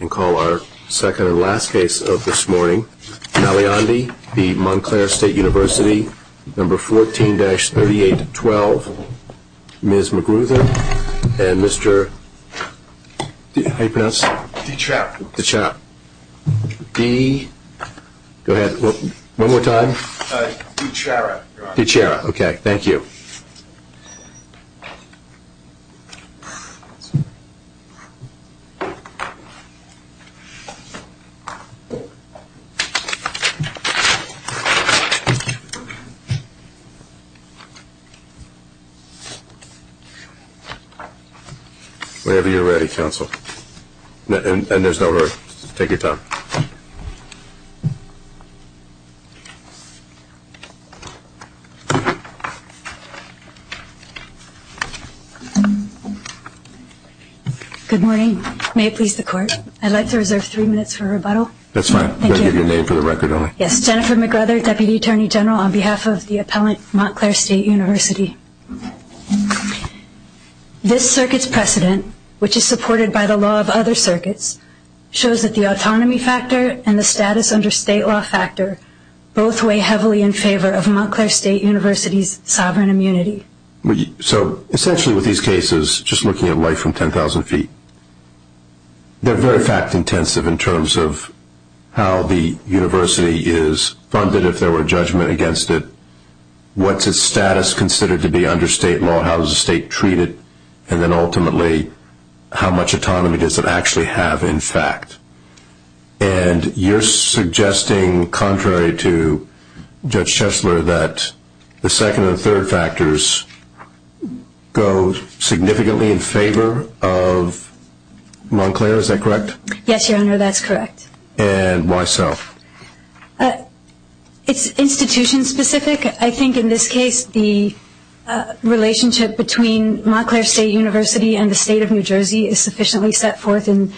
And call our second and last case of this morning. Maliandi v. Montclair State University, No. 14-3812. Ms. McGruthin and Mr., how do you pronounce it? DiCiara. DiCiara. Di, go ahead, one more time. DiCiara. DiCiara, okay, thank you. Whenever you're ready, counsel. And there's no hurry. Take your time. Good morning. May it please the court, I'd like to reserve three minutes for rebuttal. That's fine. Thank you. I'll give you a name for the record only. Yes, Jennifer McGrother, Deputy Attorney General on behalf of the appellant, Montclair State University. This circuit's precedent, which is supported by the law of other circuits, shows that the autonomy factor and the status under state law factor both weigh heavily in favor of Montclair State University's sovereign immunity. So essentially with these cases, just looking at life from 10,000 feet, they're very fact-intensive in terms of how the university is funded, if there were a judgment against it, what's its status considered to be under state law, how does the state treat it, and then ultimately how much autonomy does it actually have in fact. And you're suggesting, contrary to Judge Schessler, that the second and third factors go significantly in favor of Montclair, is that correct? Yes, Your Honor, that's correct. And why so? It's institution-specific. I think in this case the relationship between Montclair State University and the state of New Jersey is sufficiently set forth in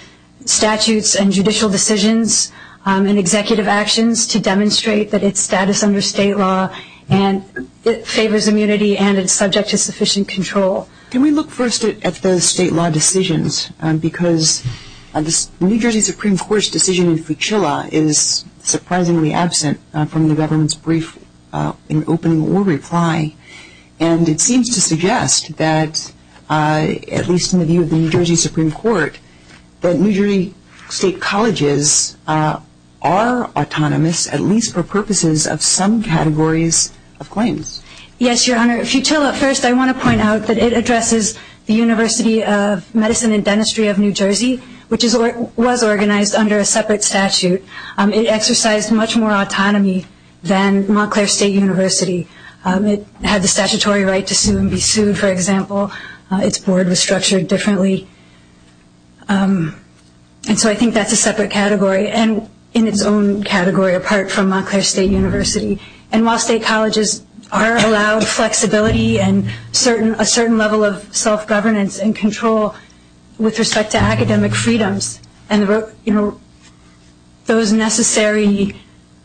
statutes and judicial decisions and executive actions to demonstrate that its status under state law favors immunity and it's subject to sufficient control. Can we look first at the state law decisions? Because the New Jersey Supreme Court's decision in Futilla is surprisingly absent from the government's brief in opening or reply, and it seems to suggest that, at least in the view of the New Jersey Supreme Court, that New Jersey state colleges are autonomous, at least for purposes of some categories of claims. Yes, Your Honor. Futilla, first I want to point out that it addresses the University of Medicine and Dentistry of New Jersey, which was organized under a separate statute. It exercised much more autonomy than Montclair State University. It had the statutory right to sue and be sued, for example. Its board was structured differently. And so I think that's a separate category and in its own category apart from Montclair State University. And while state colleges are allowed flexibility and a certain level of self-governance and control with respect to academic freedoms and those necessary, you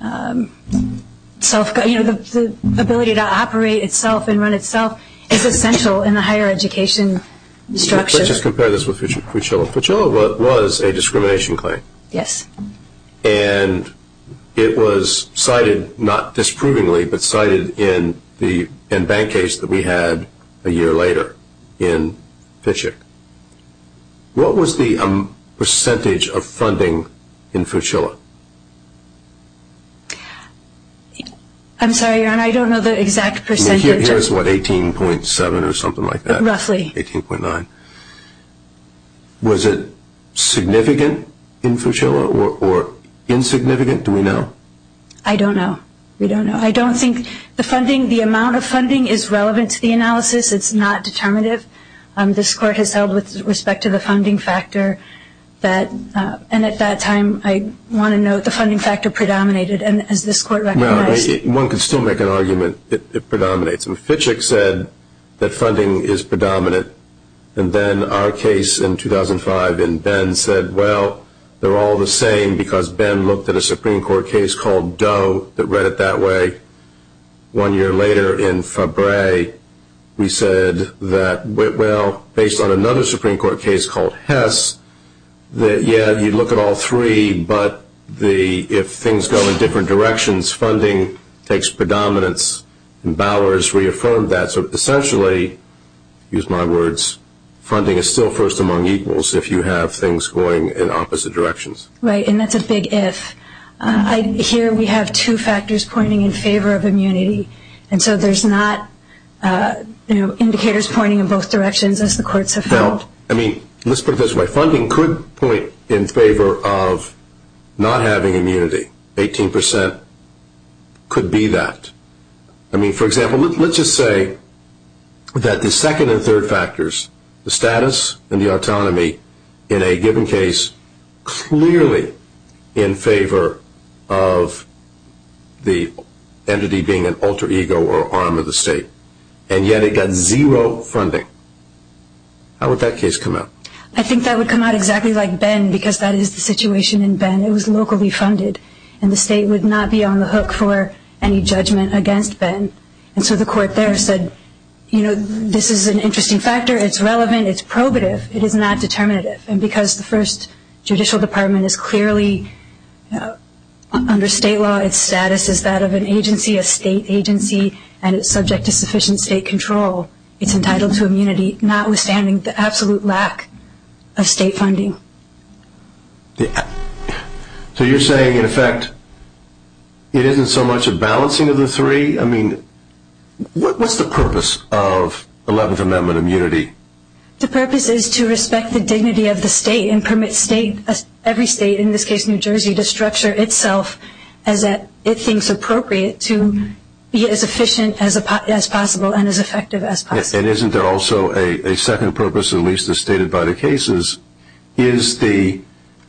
know, the ability to operate itself and run itself is essential in the higher education structure. Let's just compare this with Futilla. Futilla was a discrimination claim. Yes. And it was cited, not disprovingly, but cited in the bank case that we had a year later in Fishick. What was the percentage of funding in Futilla? I'm sorry, Your Honor. I don't know the exact percentage. It was, what, 18.7 or something like that? Roughly. 18.9. Was it significant in Futilla or insignificant? Do we know? I don't know. We don't know. I don't think the funding, the amount of funding is relevant to the analysis. It's not determinative. This Court has held with respect to the funding factor that, and at that time, I want to note the funding factor predominated, and as this Court recognized. Well, one could still make an argument it predominates. Fishick said that funding is predominant, and then our case in 2005 in Ben said, well, they're all the same because Ben looked at a Supreme Court case called Doe that read it that way. One year later in Fabray, we said that, well, based on another Supreme Court case called Hess, that, yeah, you look at all three, but if things go in different directions, funding takes predominance, and Bowers reaffirmed that. So essentially, use my words, funding is still first among equals if you have things going in opposite directions. Right, and that's a big if. Here we have two factors pointing in favor of immunity, and so there's not indicators pointing in both directions as the courts have felt. No. I mean, let's put it this way. Funding could point in favor of not having immunity. Eighteen percent could be that. I mean, for example, let's just say that the second and third factors, the status and the autonomy, in a given case clearly in favor of the entity being an alter ego or arm of the state, and yet it got zero funding. How would that case come out? I think that would come out exactly like Ben because that is the situation in Ben. It was locally funded, and the state would not be on the hook for any judgment against Ben, and so the court there said, you know, this is an interesting factor. It's relevant. It's probative. It is not determinative, and because the first judicial department is clearly under state law, its status is that of an agency, a state agency, and it's subject to sufficient state control. It's entitled to immunity, notwithstanding the absolute lack of state funding. So you're saying, in effect, it isn't so much a balancing of the three? I mean, what's the purpose of 11th Amendment immunity? The purpose is to respect the dignity of the state and permit every state, in this case New Jersey, to structure itself as it thinks appropriate to be as efficient as possible and as effective as possible. And isn't there also a second purpose, at least as stated by the cases? Is the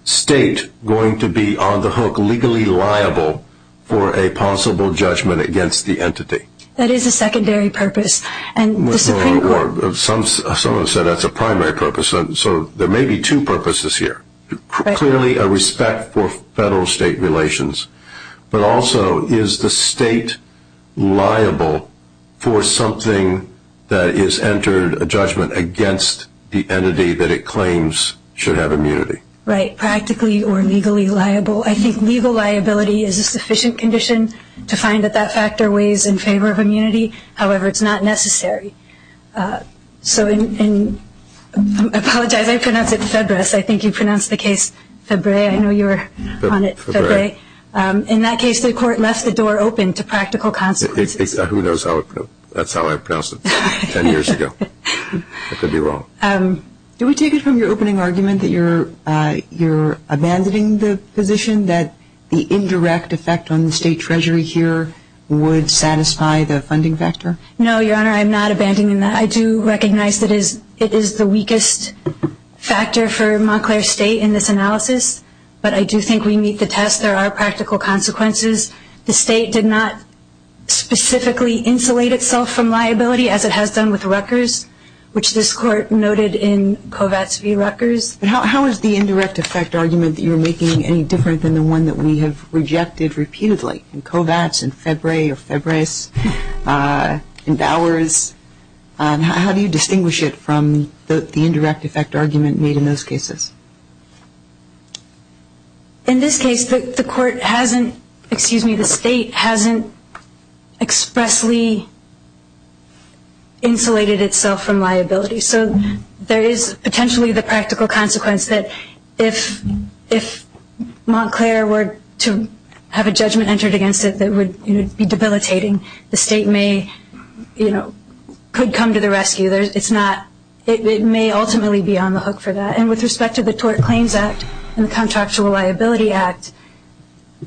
state going to be on the hook legally liable for a possible judgment against the entity? That is a secondary purpose. Someone said that's a primary purpose, so there may be two purposes here. Clearly a respect for federal-state relations, but also is the state liable for something that has entered a judgment against the entity that it claims should have immunity? Right, practically or legally liable. I think legal liability is a sufficient condition to find that that factor weighs in favor of immunity. However, it's not necessary. So I apologize, I pronounced it Febreze. I think you pronounced the case Febreze. I know you were on it, Febreze. In that case, the court left the door open to practical consequences. Who knows? That's how I pronounced it 10 years ago. I could be wrong. Do we take it from your opening argument that you're abandoning the position that the indirect effect on the state treasury here would satisfy the funding factor? No, Your Honor, I'm not abandoning that. I do recognize that it is the weakest factor for Montclair State in this analysis, but I do think we meet the test. There are practical consequences. The state did not specifically insulate itself from liability as it has done with Rutgers, which this Court noted in Kovats v. Rutgers. How is the indirect effect argument that you're making any different than the one that we have rejected repeatedly? In Kovats, in Febreze, in Bowers, how do you distinguish it from the indirect effect argument made in those cases? In this case, the court hasn't, excuse me, the state hasn't expressly insulated itself from liability. So there is potentially the practical consequence that if Montclair were to have a judgment entered against it that would be debilitating, the state may, you know, could come to the rescue. It's not, it may ultimately be on the hook for that. And with respect to the Tort Claims Act and the Contractual Liability Act,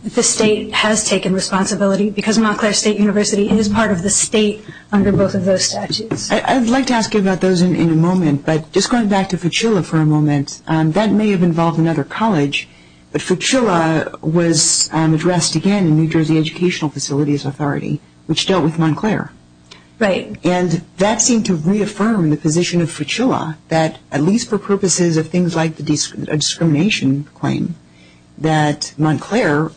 the state has taken responsibility because Montclair State University is part of the state under both of those statutes. I'd like to ask you about those in a moment. But just going back to Fuchilla for a moment, that may have involved another college. But Fuchilla was addressed again in New Jersey Educational Facilities Authority, which dealt with Montclair. Right. And that seemed to reaffirm the position of Fuchilla that at least for purposes of things like a discrimination claim, that Montclair,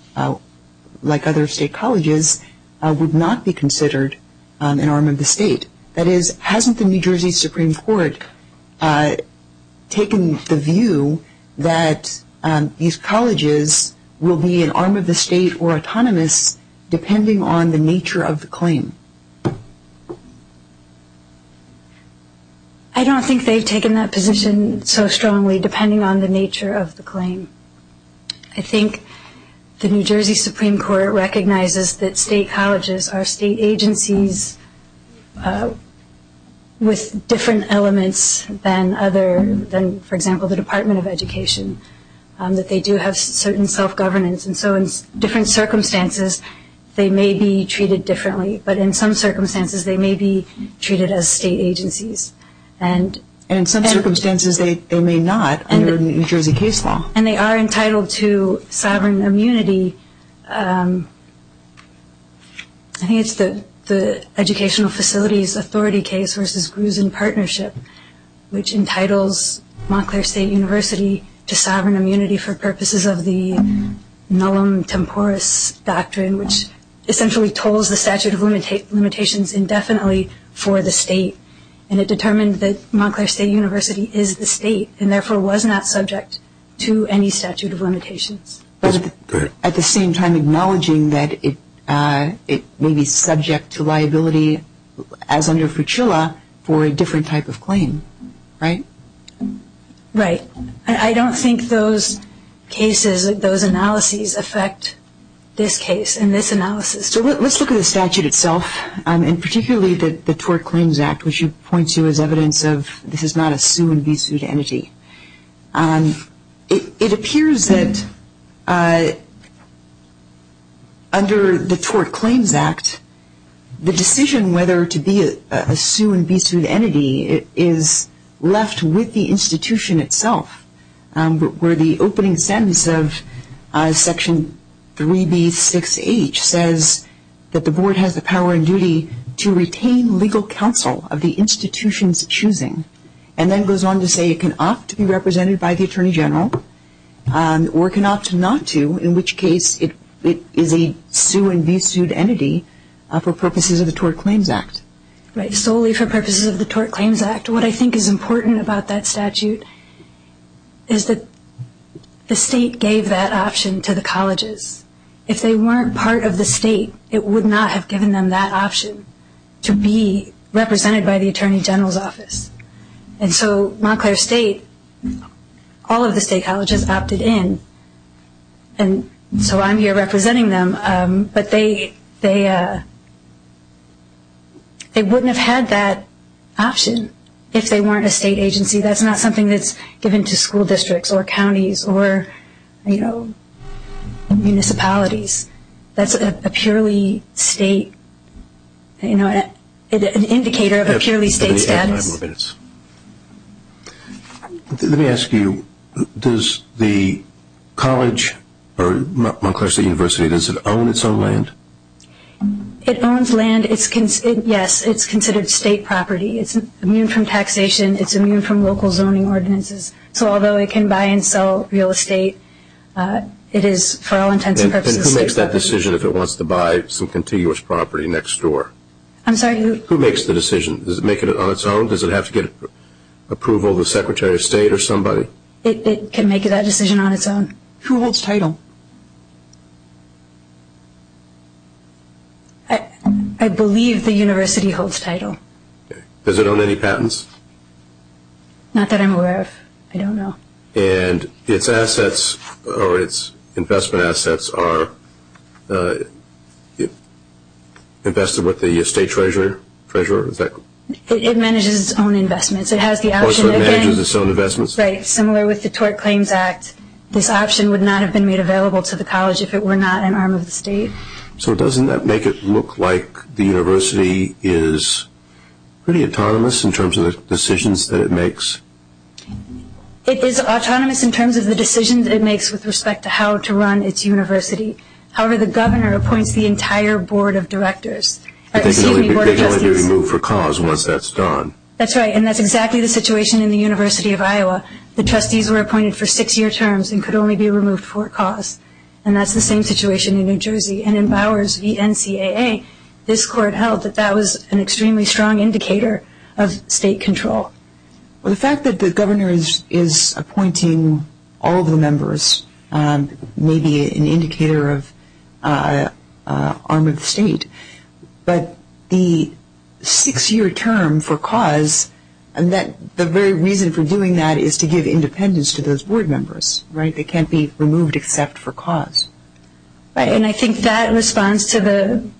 like other state colleges, would not be considered an arm of the state. That is, hasn't the New Jersey Supreme Court taken the view that these colleges will be an arm of the state or autonomous depending on the nature of the claim? I don't think they've taken that position so strongly depending on the nature of the claim. I think the New Jersey Supreme Court recognizes that state colleges are state agencies with different elements than, for example, the Department of Education, that they do have certain self-governance. And so in different circumstances, they may be treated differently. But in some circumstances, they may be treated as state agencies. And in some circumstances, they may not under New Jersey case law. And they are entitled to sovereign immunity. I think it's the Educational Facilities Authority case versus Gruzin Partnership, which entitles Montclair State University to sovereign immunity for purposes of the Nullum Temporis Doctrine, which essentially tolls the statute of limitations indefinitely for the state. And it determined that Montclair State University is the state and therefore was not subject to any statute of limitations. But at the same time acknowledging that it may be subject to liability, as under FUCHILA, for a different type of claim, right? Right. I don't think those cases, those analyses affect this case and this analysis. So let's look at the statute itself, and particularly the Tort Claims Act, which points you as evidence of this is not a sue-and-be-sued entity. It appears that under the Tort Claims Act, the decision whether to be a sue-and-be-sued entity is left with the institution itself, where the opening sentence of Section 3B6H says that the board has the power and duty to retain legal counsel of the institution's choosing, and then goes on to say it can opt to be represented by the Attorney General or it can opt not to, in which case it is a sue-and-be-sued entity for purposes of the Tort Claims Act. Right. Solely for purposes of the Tort Claims Act. What I think is important about that statute is that the state gave that option to the colleges. If they weren't part of the state, it would not have given them that option to be represented by the Attorney General's office. And so Montclair State, all of the state colleges opted in, and so I'm here representing them, but they wouldn't have had that option if they weren't a state agency. That's not something that's given to school districts or counties or, you know, municipalities. That's a purely state, you know, an indicator of a purely state status. Five more minutes. Let me ask you, does the college or Montclair State University, does it own its own land? It owns land. Yes, it's considered state property. It's immune from taxation. It's immune from local zoning ordinances. So although it can buy and sell real estate, it is for all intents and purposes state property. And who makes that decision if it wants to buy some contiguous property next door? I'm sorry? Who makes the decision? Does it make it on its own? Does it have to get approval of the Secretary of State or somebody? It can make that decision on its own. Who holds title? I believe the university holds title. Does it own any patents? Not that I'm aware of. I don't know. And its assets or its investment assets are invested with the state treasurer? It manages its own investments. It has the option of getting. So it manages its own investments? Right. Similar with the Tort Claims Act, this option would not have been made available to the college if it were not an arm of the state. So doesn't that make it look like the university is pretty autonomous in terms of the decisions that it makes? It is autonomous in terms of the decisions it makes with respect to how to run its university. However, the governor appoints the entire board of directors. They can only be removed for cause once that's done. That's right. And that's exactly the situation in the University of Iowa. The trustees were appointed for six-year terms and could only be removed for cause. And that's the same situation in New Jersey. And in Bowers v. NCAA, this court held that that was an extremely strong indicator of state control. Well, the fact that the governor is appointing all of the members may be an indicator of arm of the state. But the six-year term for cause, the very reason for doing that is to give independence to those board members. They can't be removed except for cause. And I think that responds to the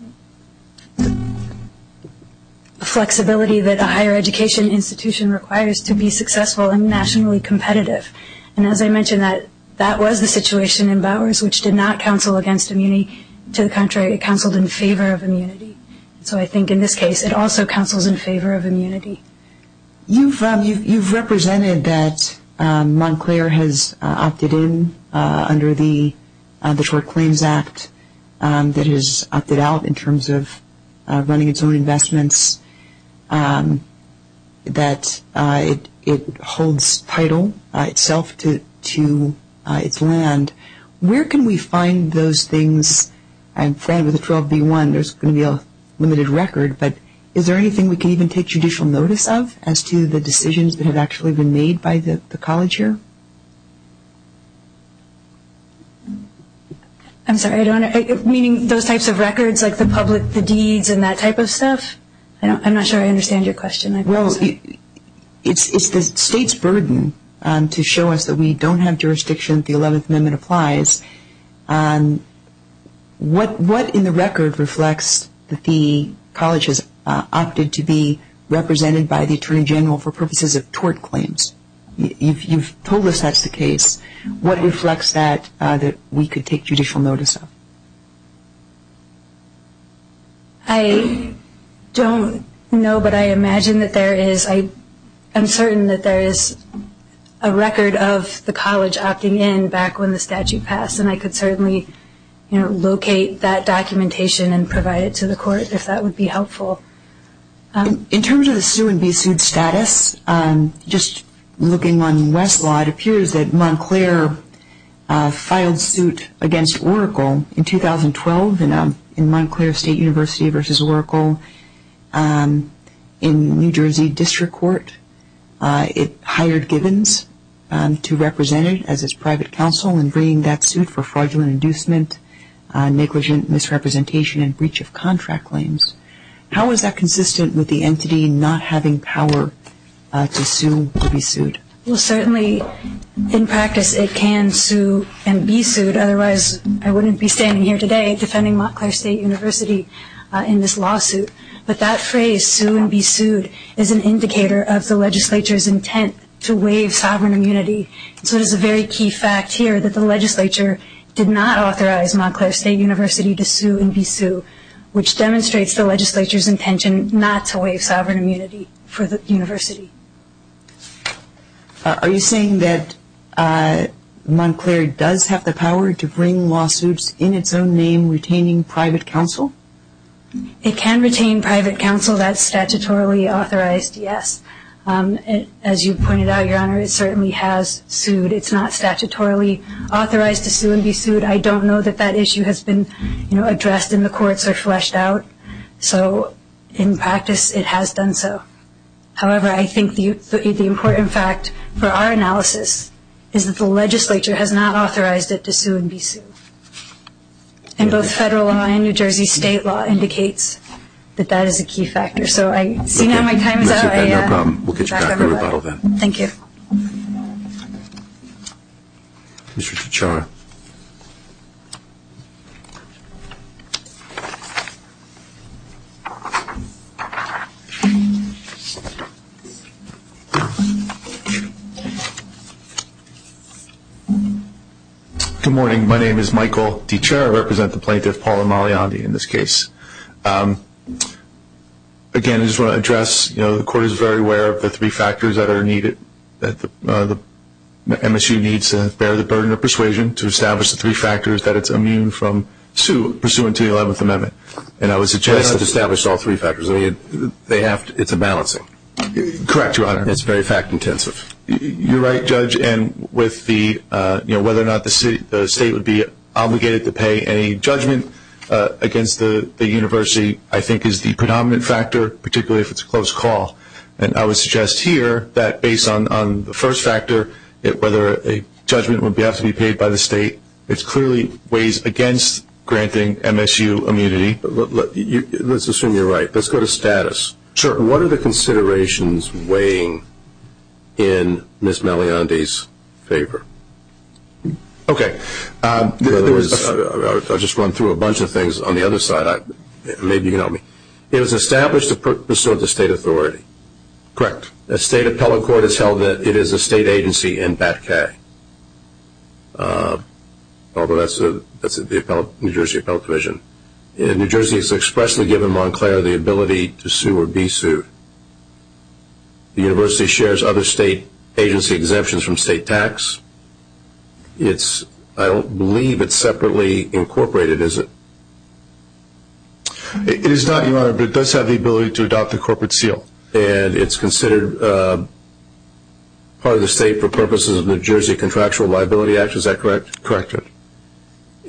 flexibility that a higher education institution requires to be successful and nationally competitive. And as I mentioned, that was the situation in Bowers, which did not counsel against immunity. To the contrary, it counseled in favor of immunity. So I think in this case it also counsels in favor of immunity. You've represented that Montclair has opted in under the Short Claims Act, that it has opted out in terms of running its own investments, that it holds title itself to its land. Where can we find those things? I'm friend with the 12B1. There's going to be a limited record. But is there anything we can even take judicial notice of as to the decisions that have actually been made by the college here? I'm sorry. Meaning those types of records, like the public, the deeds, and that type of stuff? I'm not sure I understand your question. Well, it's the state's burden to show us that we don't have jurisdiction, the 11th Amendment applies. What in the record reflects that the college has opted to be represented by the Attorney General for purposes of tort claims? You've told us that's the case. What reflects that that we could take judicial notice of? I don't know, but I imagine that there is. I'm certain that there is a record of the college opting in back when the statute passed, and I could certainly locate that documentation and provide it to the court if that would be helpful. In terms of the sue and be sued status, just looking on Westlaw, it appears that Montclair filed suit against Oracle in 2012 in Montclair State University versus Oracle in New Jersey District Court. It hired Givens to represent it as its private counsel in bringing that suit for fraudulent inducement, negligent misrepresentation, and breach of contract claims. How is that consistent with the entity not having power to sue or be sued? Well, certainly in practice it can sue and be sued, otherwise I wouldn't be standing here today defending Montclair State University in this lawsuit. But that phrase, sue and be sued, is an indicator of the legislature's intent to waive sovereign immunity. So it is a very key fact here that the legislature did not authorize Montclair State University to sue and be sued, which demonstrates the legislature's intention not to waive sovereign immunity for the university. Are you saying that Montclair does have the power to bring lawsuits in its own name retaining private counsel? It can retain private counsel that's statutorily authorized, yes. As you pointed out, Your Honor, it certainly has sued. It's not statutorily authorized to sue and be sued. I don't know that that issue has been addressed in the courts or fleshed out. So in practice it has done so. However, I think the important fact for our analysis is that the legislature has not authorized it to sue and be sued. And both federal law and New Jersey state law indicates that that is a key factor. So I see now my time is up. We'll get you back on rebuttal then. Thank you. Mr. Tichara. Good morning. My name is Michael Tichara. I represent the plaintiff, Paula Maliandi, in this case. Again, I just want to address, you know, the court is very aware of the three factors that are needed, that MSU needs to bear the burden of persuasion to establish the three factors that it's immune from pursuing to the 11th Amendment. And I would suggest that... They don't have to establish all three factors. I mean, they have to. It's a balance. Correct, Your Honor. It's very fact intensive. You're right, Judge. And with the, you know, whether or not the state would be obligated to pay any judgment against the university, I think is the predominant factor, particularly if it's a close call. And I would suggest here that based on the first factor, whether a judgment would have to be paid by the state, it clearly weighs against granting MSU immunity. Let's assume you're right. Let's go to status. Sure. What are the considerations weighing in Ms. Maliandi's favor? Okay. I'll just run through a bunch of things on the other side. Maybe you can help me. It was established to pursuant to state authority. Correct. The state appellate court has held that it is a state agency in Batcay, although that's the New Jersey appellate division. New Jersey has expressly given Montclair the ability to sue or be sued. The university shares other state agency exemptions from state tax. I don't believe it's separately incorporated, is it? It is not, Your Honor, but it does have the ability to adopt a corporate seal, and it's considered part of the state for purposes of the New Jersey Contractual Liability Act. Is that correct? Correct.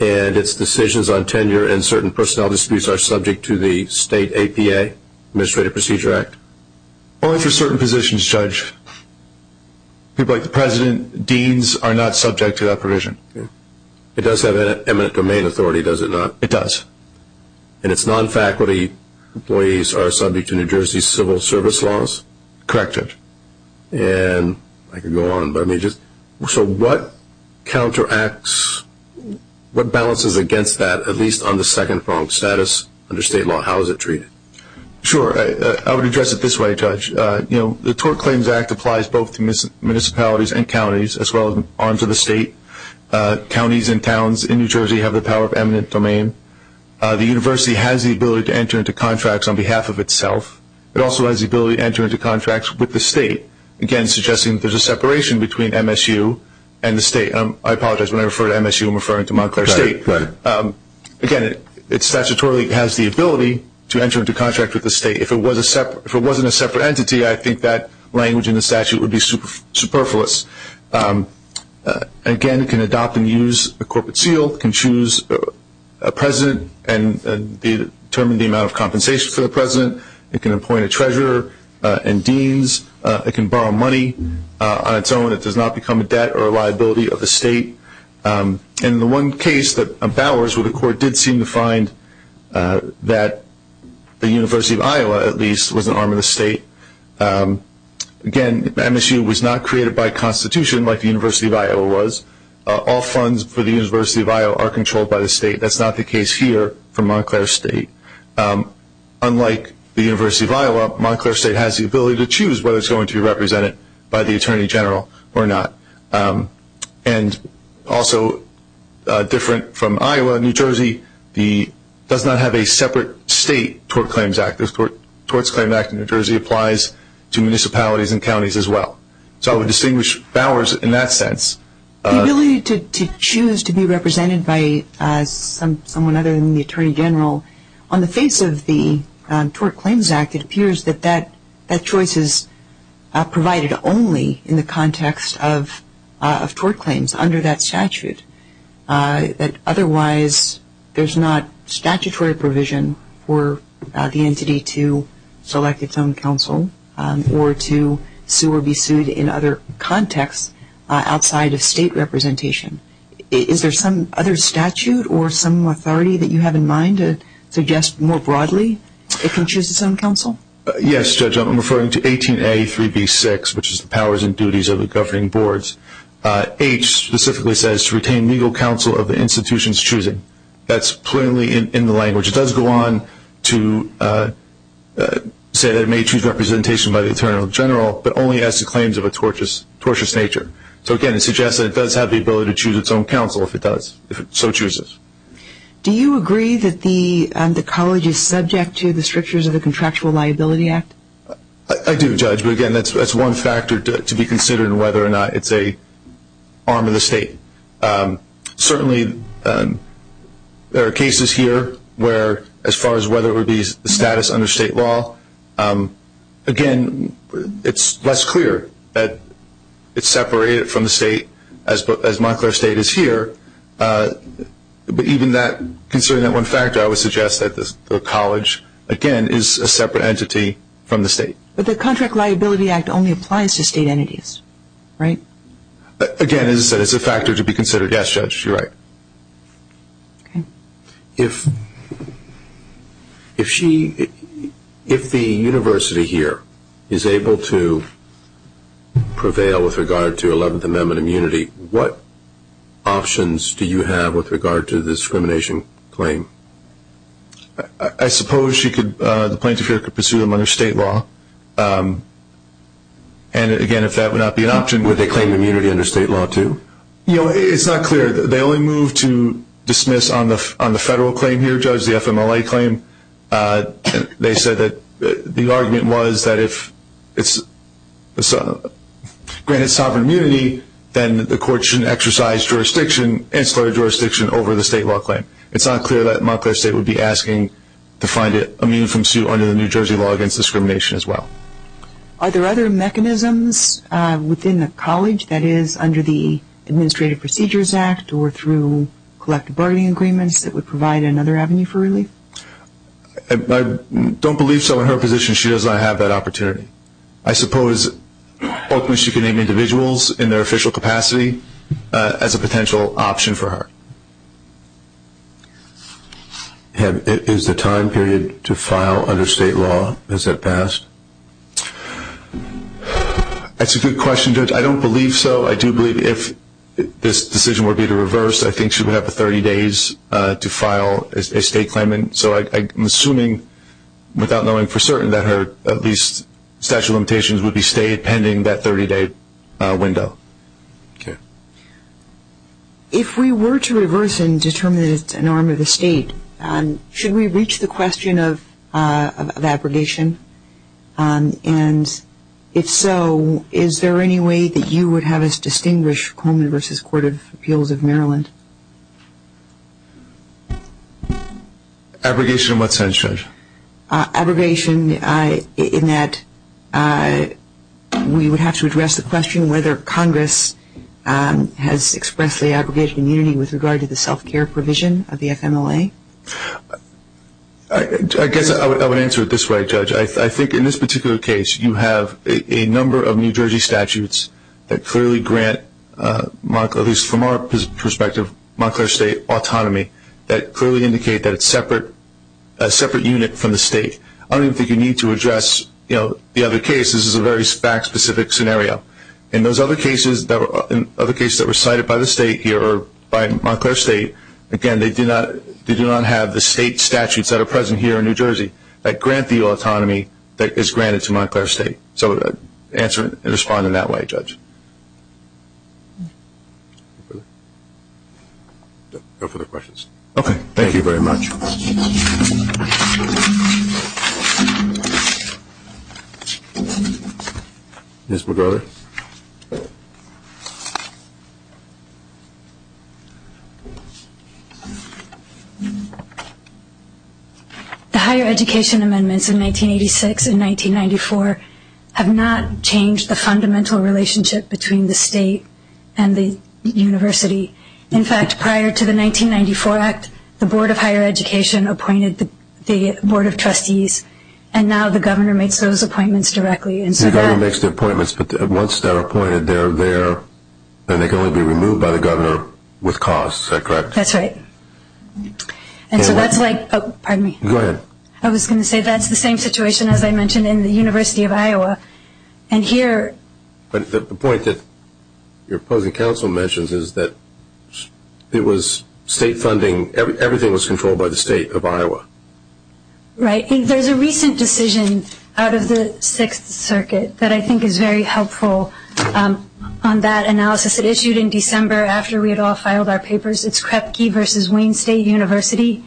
And its decisions on tenure and certain personnel disputes are subject to the state APA, Administrative Procedure Act? Only for certain positions, Judge. People like the president, deans, are not subject to that provision. It does have eminent domain authority, does it not? It does. And its non-faculty employees are subject to New Jersey civil service laws? Correct. And I could go on. So what counteracts, what balances against that, at least on the second-pronged status under state law? How is it treated? Sure. I would address it this way, Judge. The Tort Claims Act applies both to municipalities and counties, as well as on to the state. Counties and towns in New Jersey have the power of eminent domain. The university has the ability to enter into contracts on behalf of itself. It also has the ability to enter into contracts with the state, again suggesting that there's a separation between MSU and the state. I apologize. When I refer to MSU, I'm referring to Montclair State. Again, it statutorily has the ability to enter into contracts with the state. If it wasn't a separate entity, I think that language in the statute would be superfluous. Again, it can adopt and use a corporate seal. It can choose a president and determine the amount of compensation for the president. It can appoint a treasurer and deans. It can borrow money on its own. It does not become a debt or a liability of the state. In the one case that Bowers would accord, it did seem to find that the University of Iowa, at least, was an arm of the state. Again, MSU was not created by constitution like the University of Iowa was. All funds for the University of Iowa are controlled by the state. That's not the case here for Montclair State. Unlike the University of Iowa, Montclair State has the ability to choose whether it's going to be represented by the Attorney General or not. Also, different from Iowa, New Jersey does not have a separate state towards Claims Act. The Towards Claims Act in New Jersey applies to municipalities and counties as well. So I would distinguish Bowers in that sense. The ability to choose to be represented by someone other than the Attorney General, on the face of the Towards Claims Act, it appears that that choice is provided only in the context of toward claims under that statute. Otherwise, there's not statutory provision for the entity to select its own counsel or to sue or be sued in other contexts outside of state representation. Is there some other statute or some authority that you have in mind to suggest more broadly it can choose its own counsel? Yes, Judge, I'm referring to 18A3B6, which is the powers and duties of the governing boards. H specifically says to retain legal counsel of the institution's choosing. That's plainly in the language. It does go on to say that it may choose representation by the Attorney General, but only as to claims of a tortious nature. So, again, it suggests that it does have the ability to choose its own counsel if it so chooses. Do you agree that the college is subject to the strictures of the Contractual Liability Act? I do, Judge, but, again, that's one factor to be considered whether or not it's an arm of the state. Certainly, there are cases here where, as far as whether it would be the status under state law, again, it's less clear that it's separated from the state as Montclair State is here. But even considering that one factor, I would suggest that the college, again, is a separate entity from the state. But the Contractual Liability Act only applies to state entities, right? Again, as I said, it's a factor to be considered. Yes, Judge, you're right. If the university here is able to prevail with regard to 11th Amendment immunity, what options do you have with regard to the discrimination claim? I suppose the plaintiff here could pursue them under state law. And, again, if that would not be an option… Would they claim immunity under state law, too? You know, it's not clear. They only moved to dismiss on the federal claim here, Judge, the FMLA claim. They said that the argument was that if it's granted sovereign immunity, then the court shouldn't exercise jurisdiction, insular jurisdiction, over the state law claim. It's not clear that Montclair State would be asking to find it immune from suit under the New Jersey law against discrimination as well. Are there other mechanisms within the college that is under the Administrative Procedures Act or through collective bargaining agreements that would provide another avenue for relief? I don't believe so. In her position, she does not have that opportunity. I suppose ultimately she could name individuals in their official capacity as a potential option for her. Is the time period to file under state law? Has that passed? That's a good question, Judge. I don't believe so. I do believe if this decision were to be reversed, I think she would have 30 days to file a state claim. So I'm assuming, without knowing for certain, that her at least statute of limitations would be stayed pending that 30-day window. Okay. If we were to reverse and determine that it's an arm of the state, should we reach the question of abrogation? And if so, is there any way that you would have us distinguish Coleman v. Court of Appeals of Maryland? Abrogation in what sense, Judge? Abrogation in that we would have to address the question whether Congress has expressed the abrogation immunity with regard to the self-care provision of the FMLA. I guess I would answer it this way, Judge. I think in this particular case you have a number of New Jersey statutes that clearly grant, at least from our perspective, Montclair State autonomy, that clearly indicate that it's a separate unit from the state. I don't even think you need to address the other cases. This is a very fact-specific scenario. In those other cases that were cited by the state here or by Montclair State, again, they do not have the state statutes that are present here in New Jersey that grant the autonomy that is granted to Montclair State. So I would answer it and respond in that way, Judge. No further questions? Okay. Thank you very much. Ms. McGrover. The higher education amendments in 1986 and 1994 have not changed the fundamental relationship between the state and the university. In fact, prior to the 1994 Act, the Board of Higher Education appointed the Board of Trustees, and now the governor makes those appointments directly. The governor makes the appointments, but once they're appointed, they can only be removed by the governor with costs. Is that correct? That's right. And so that's like – oh, pardon me. Go ahead. I was going to say that's the same situation as I mentioned in the University of Iowa. And here – But the point that your opposing counsel mentions is that it was state funding. Everything was controlled by the state of Iowa. Right. There's a recent decision out of the Sixth Circuit that I think is very helpful on that analysis. It issued in December after we had all filed our papers. It's Krepke v. Wayne State University,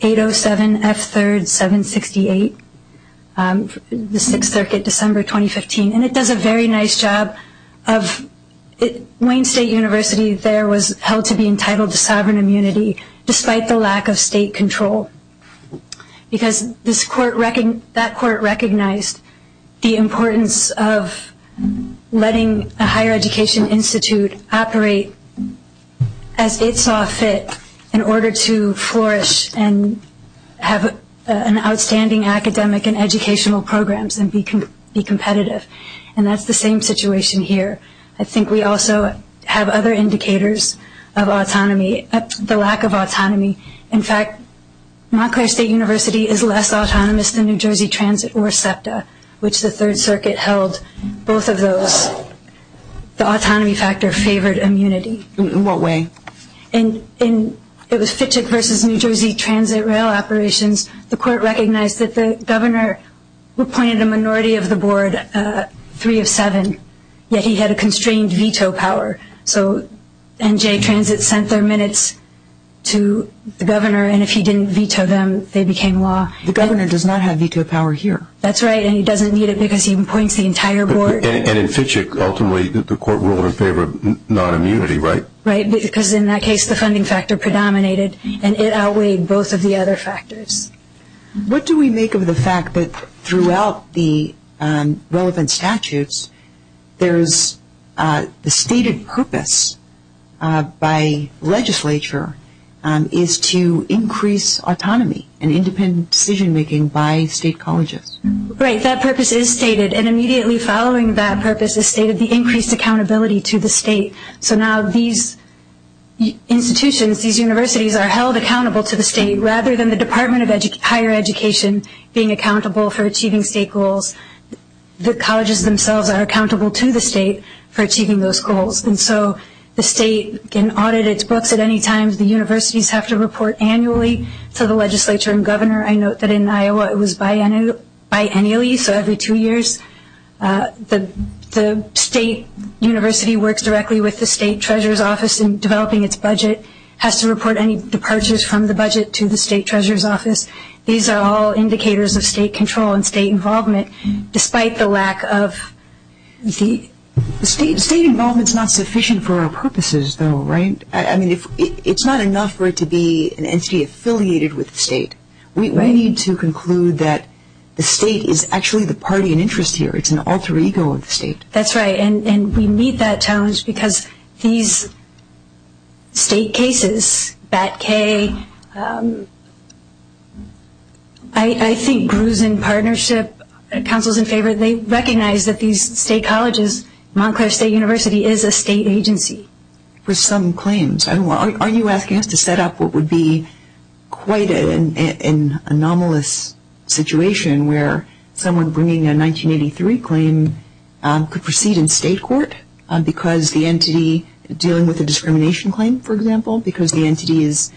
807 F. 3rd 768, the Sixth Circuit, December 2015. And it does a very nice job of – Wayne State University there was held to be entitled to sovereign immunity despite the lack of state control because that court recognized the importance of letting a higher education institute operate as it saw fit in order to flourish and have an outstanding academic and educational programs and be competitive. And that's the same situation here. I think we also have other indicators of autonomy, the lack of autonomy. In fact, Montclair State University is less autonomous than New Jersey Transit or SEPTA, which the Third Circuit held both of those. The autonomy factor favored immunity. In what way? In the Fitchick v. New Jersey Transit rail operations, the court recognized that the governor appointed a minority of the board, three of seven, yet he had a constrained veto power. So NJ Transit sent their minutes to the governor, and if he didn't veto them, they became law. The governor does not have veto power here. That's right, and he doesn't need it because he appoints the entire board. And in Fitchick, ultimately, the court ruled in favor of non-immunity, right? Right, because in that case, the funding factor predominated, and it outweighed both of the other factors. What do we make of the fact that throughout the relevant statutes, there's the stated purpose by legislature is to increase autonomy and independent decision-making by state colleges? Right, that purpose is stated, and immediately following that purpose is stated the increased accountability to the state. So now these institutions, these universities are held accountable to the state rather than the Department of Higher Education being accountable for achieving state goals. The colleges themselves are accountable to the state for achieving those goals. And so the state can audit its books at any time. The universities have to report annually to the legislature and governor. I note that in Iowa, it was biannually, so every two years. The state university works directly with the state treasurer's office in developing its budget, has to report any departures from the budget to the state treasurer's office. These are all indicators of state control and state involvement, despite the lack of the state. State involvement is not sufficient for our purposes, though, right? I mean, it's not enough for it to be an entity affiliated with the state. We need to conclude that the state is actually the party in interest here. It's an alter ego of the state. That's right, and we meet that challenge because these state cases, BAT-K, I think Bruce and partnership, councils in favor, they recognize that these state colleges, Montclair State University is a state agency. For some claims. Are you asking us to set up what would be quite an anomalous situation where someone bringing a 1983 claim could proceed in state court because the entity, dealing with a discrimination claim, for example, because the entity is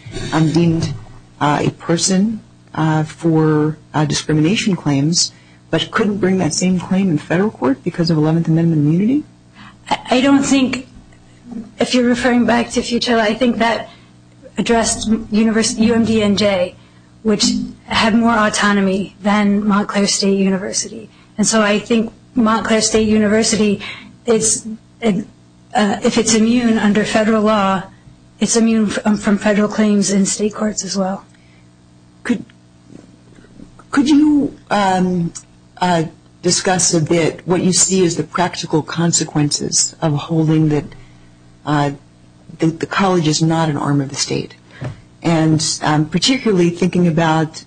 deemed a person for discrimination claims, but couldn't bring that same claim in federal court because of 11th Amendment immunity? I don't think, if you're referring back to future, I think that addressed UMDNJ, which had more autonomy than Montclair State University. And so I think Montclair State University, if it's immune under federal law, it's immune from federal claims in state courts as well. Could you discuss a bit what you see as the practical consequences of holding that the college is not an arm of the state? And particularly thinking about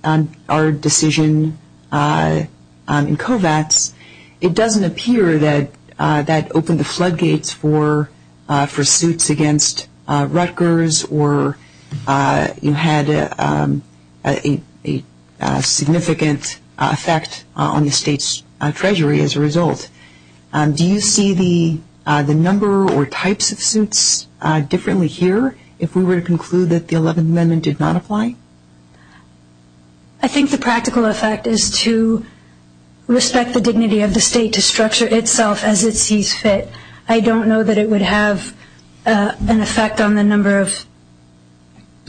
our decision in COVATS, it doesn't appear that that opened the floodgates for suits against Rutgers or you had a significant effect on the state's treasury as a result. Do you see the number or types of suits differently here? If we were to conclude that the 11th Amendment did not apply? I think the practical effect is to respect the dignity of the state to structure itself as it sees fit. I don't know that it would have an effect on the number of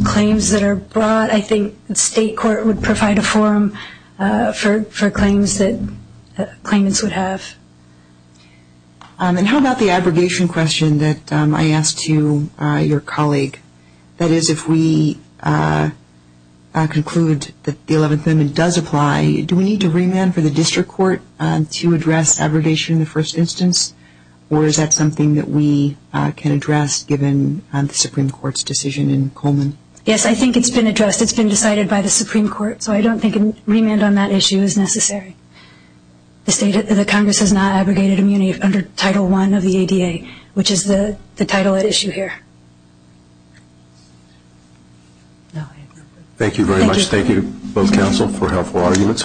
claims that are brought. I think state court would provide a forum for claims that claimants would have. And how about the abrogation question that I asked to your colleague? That is, if we conclude that the 11th Amendment does apply, do we need to remand for the district court to address abrogation in the first instance? Or is that something that we can address given the Supreme Court's decision in Coleman? Yes, I think it's been addressed. It's been decided by the Supreme Court. So I don't think a remand on that issue is necessary. The Congress has not abrogated immunity under Title I of the ADA, which is the title at issue here. Thank you very much. Thank you, both counsel, for helpful arguments.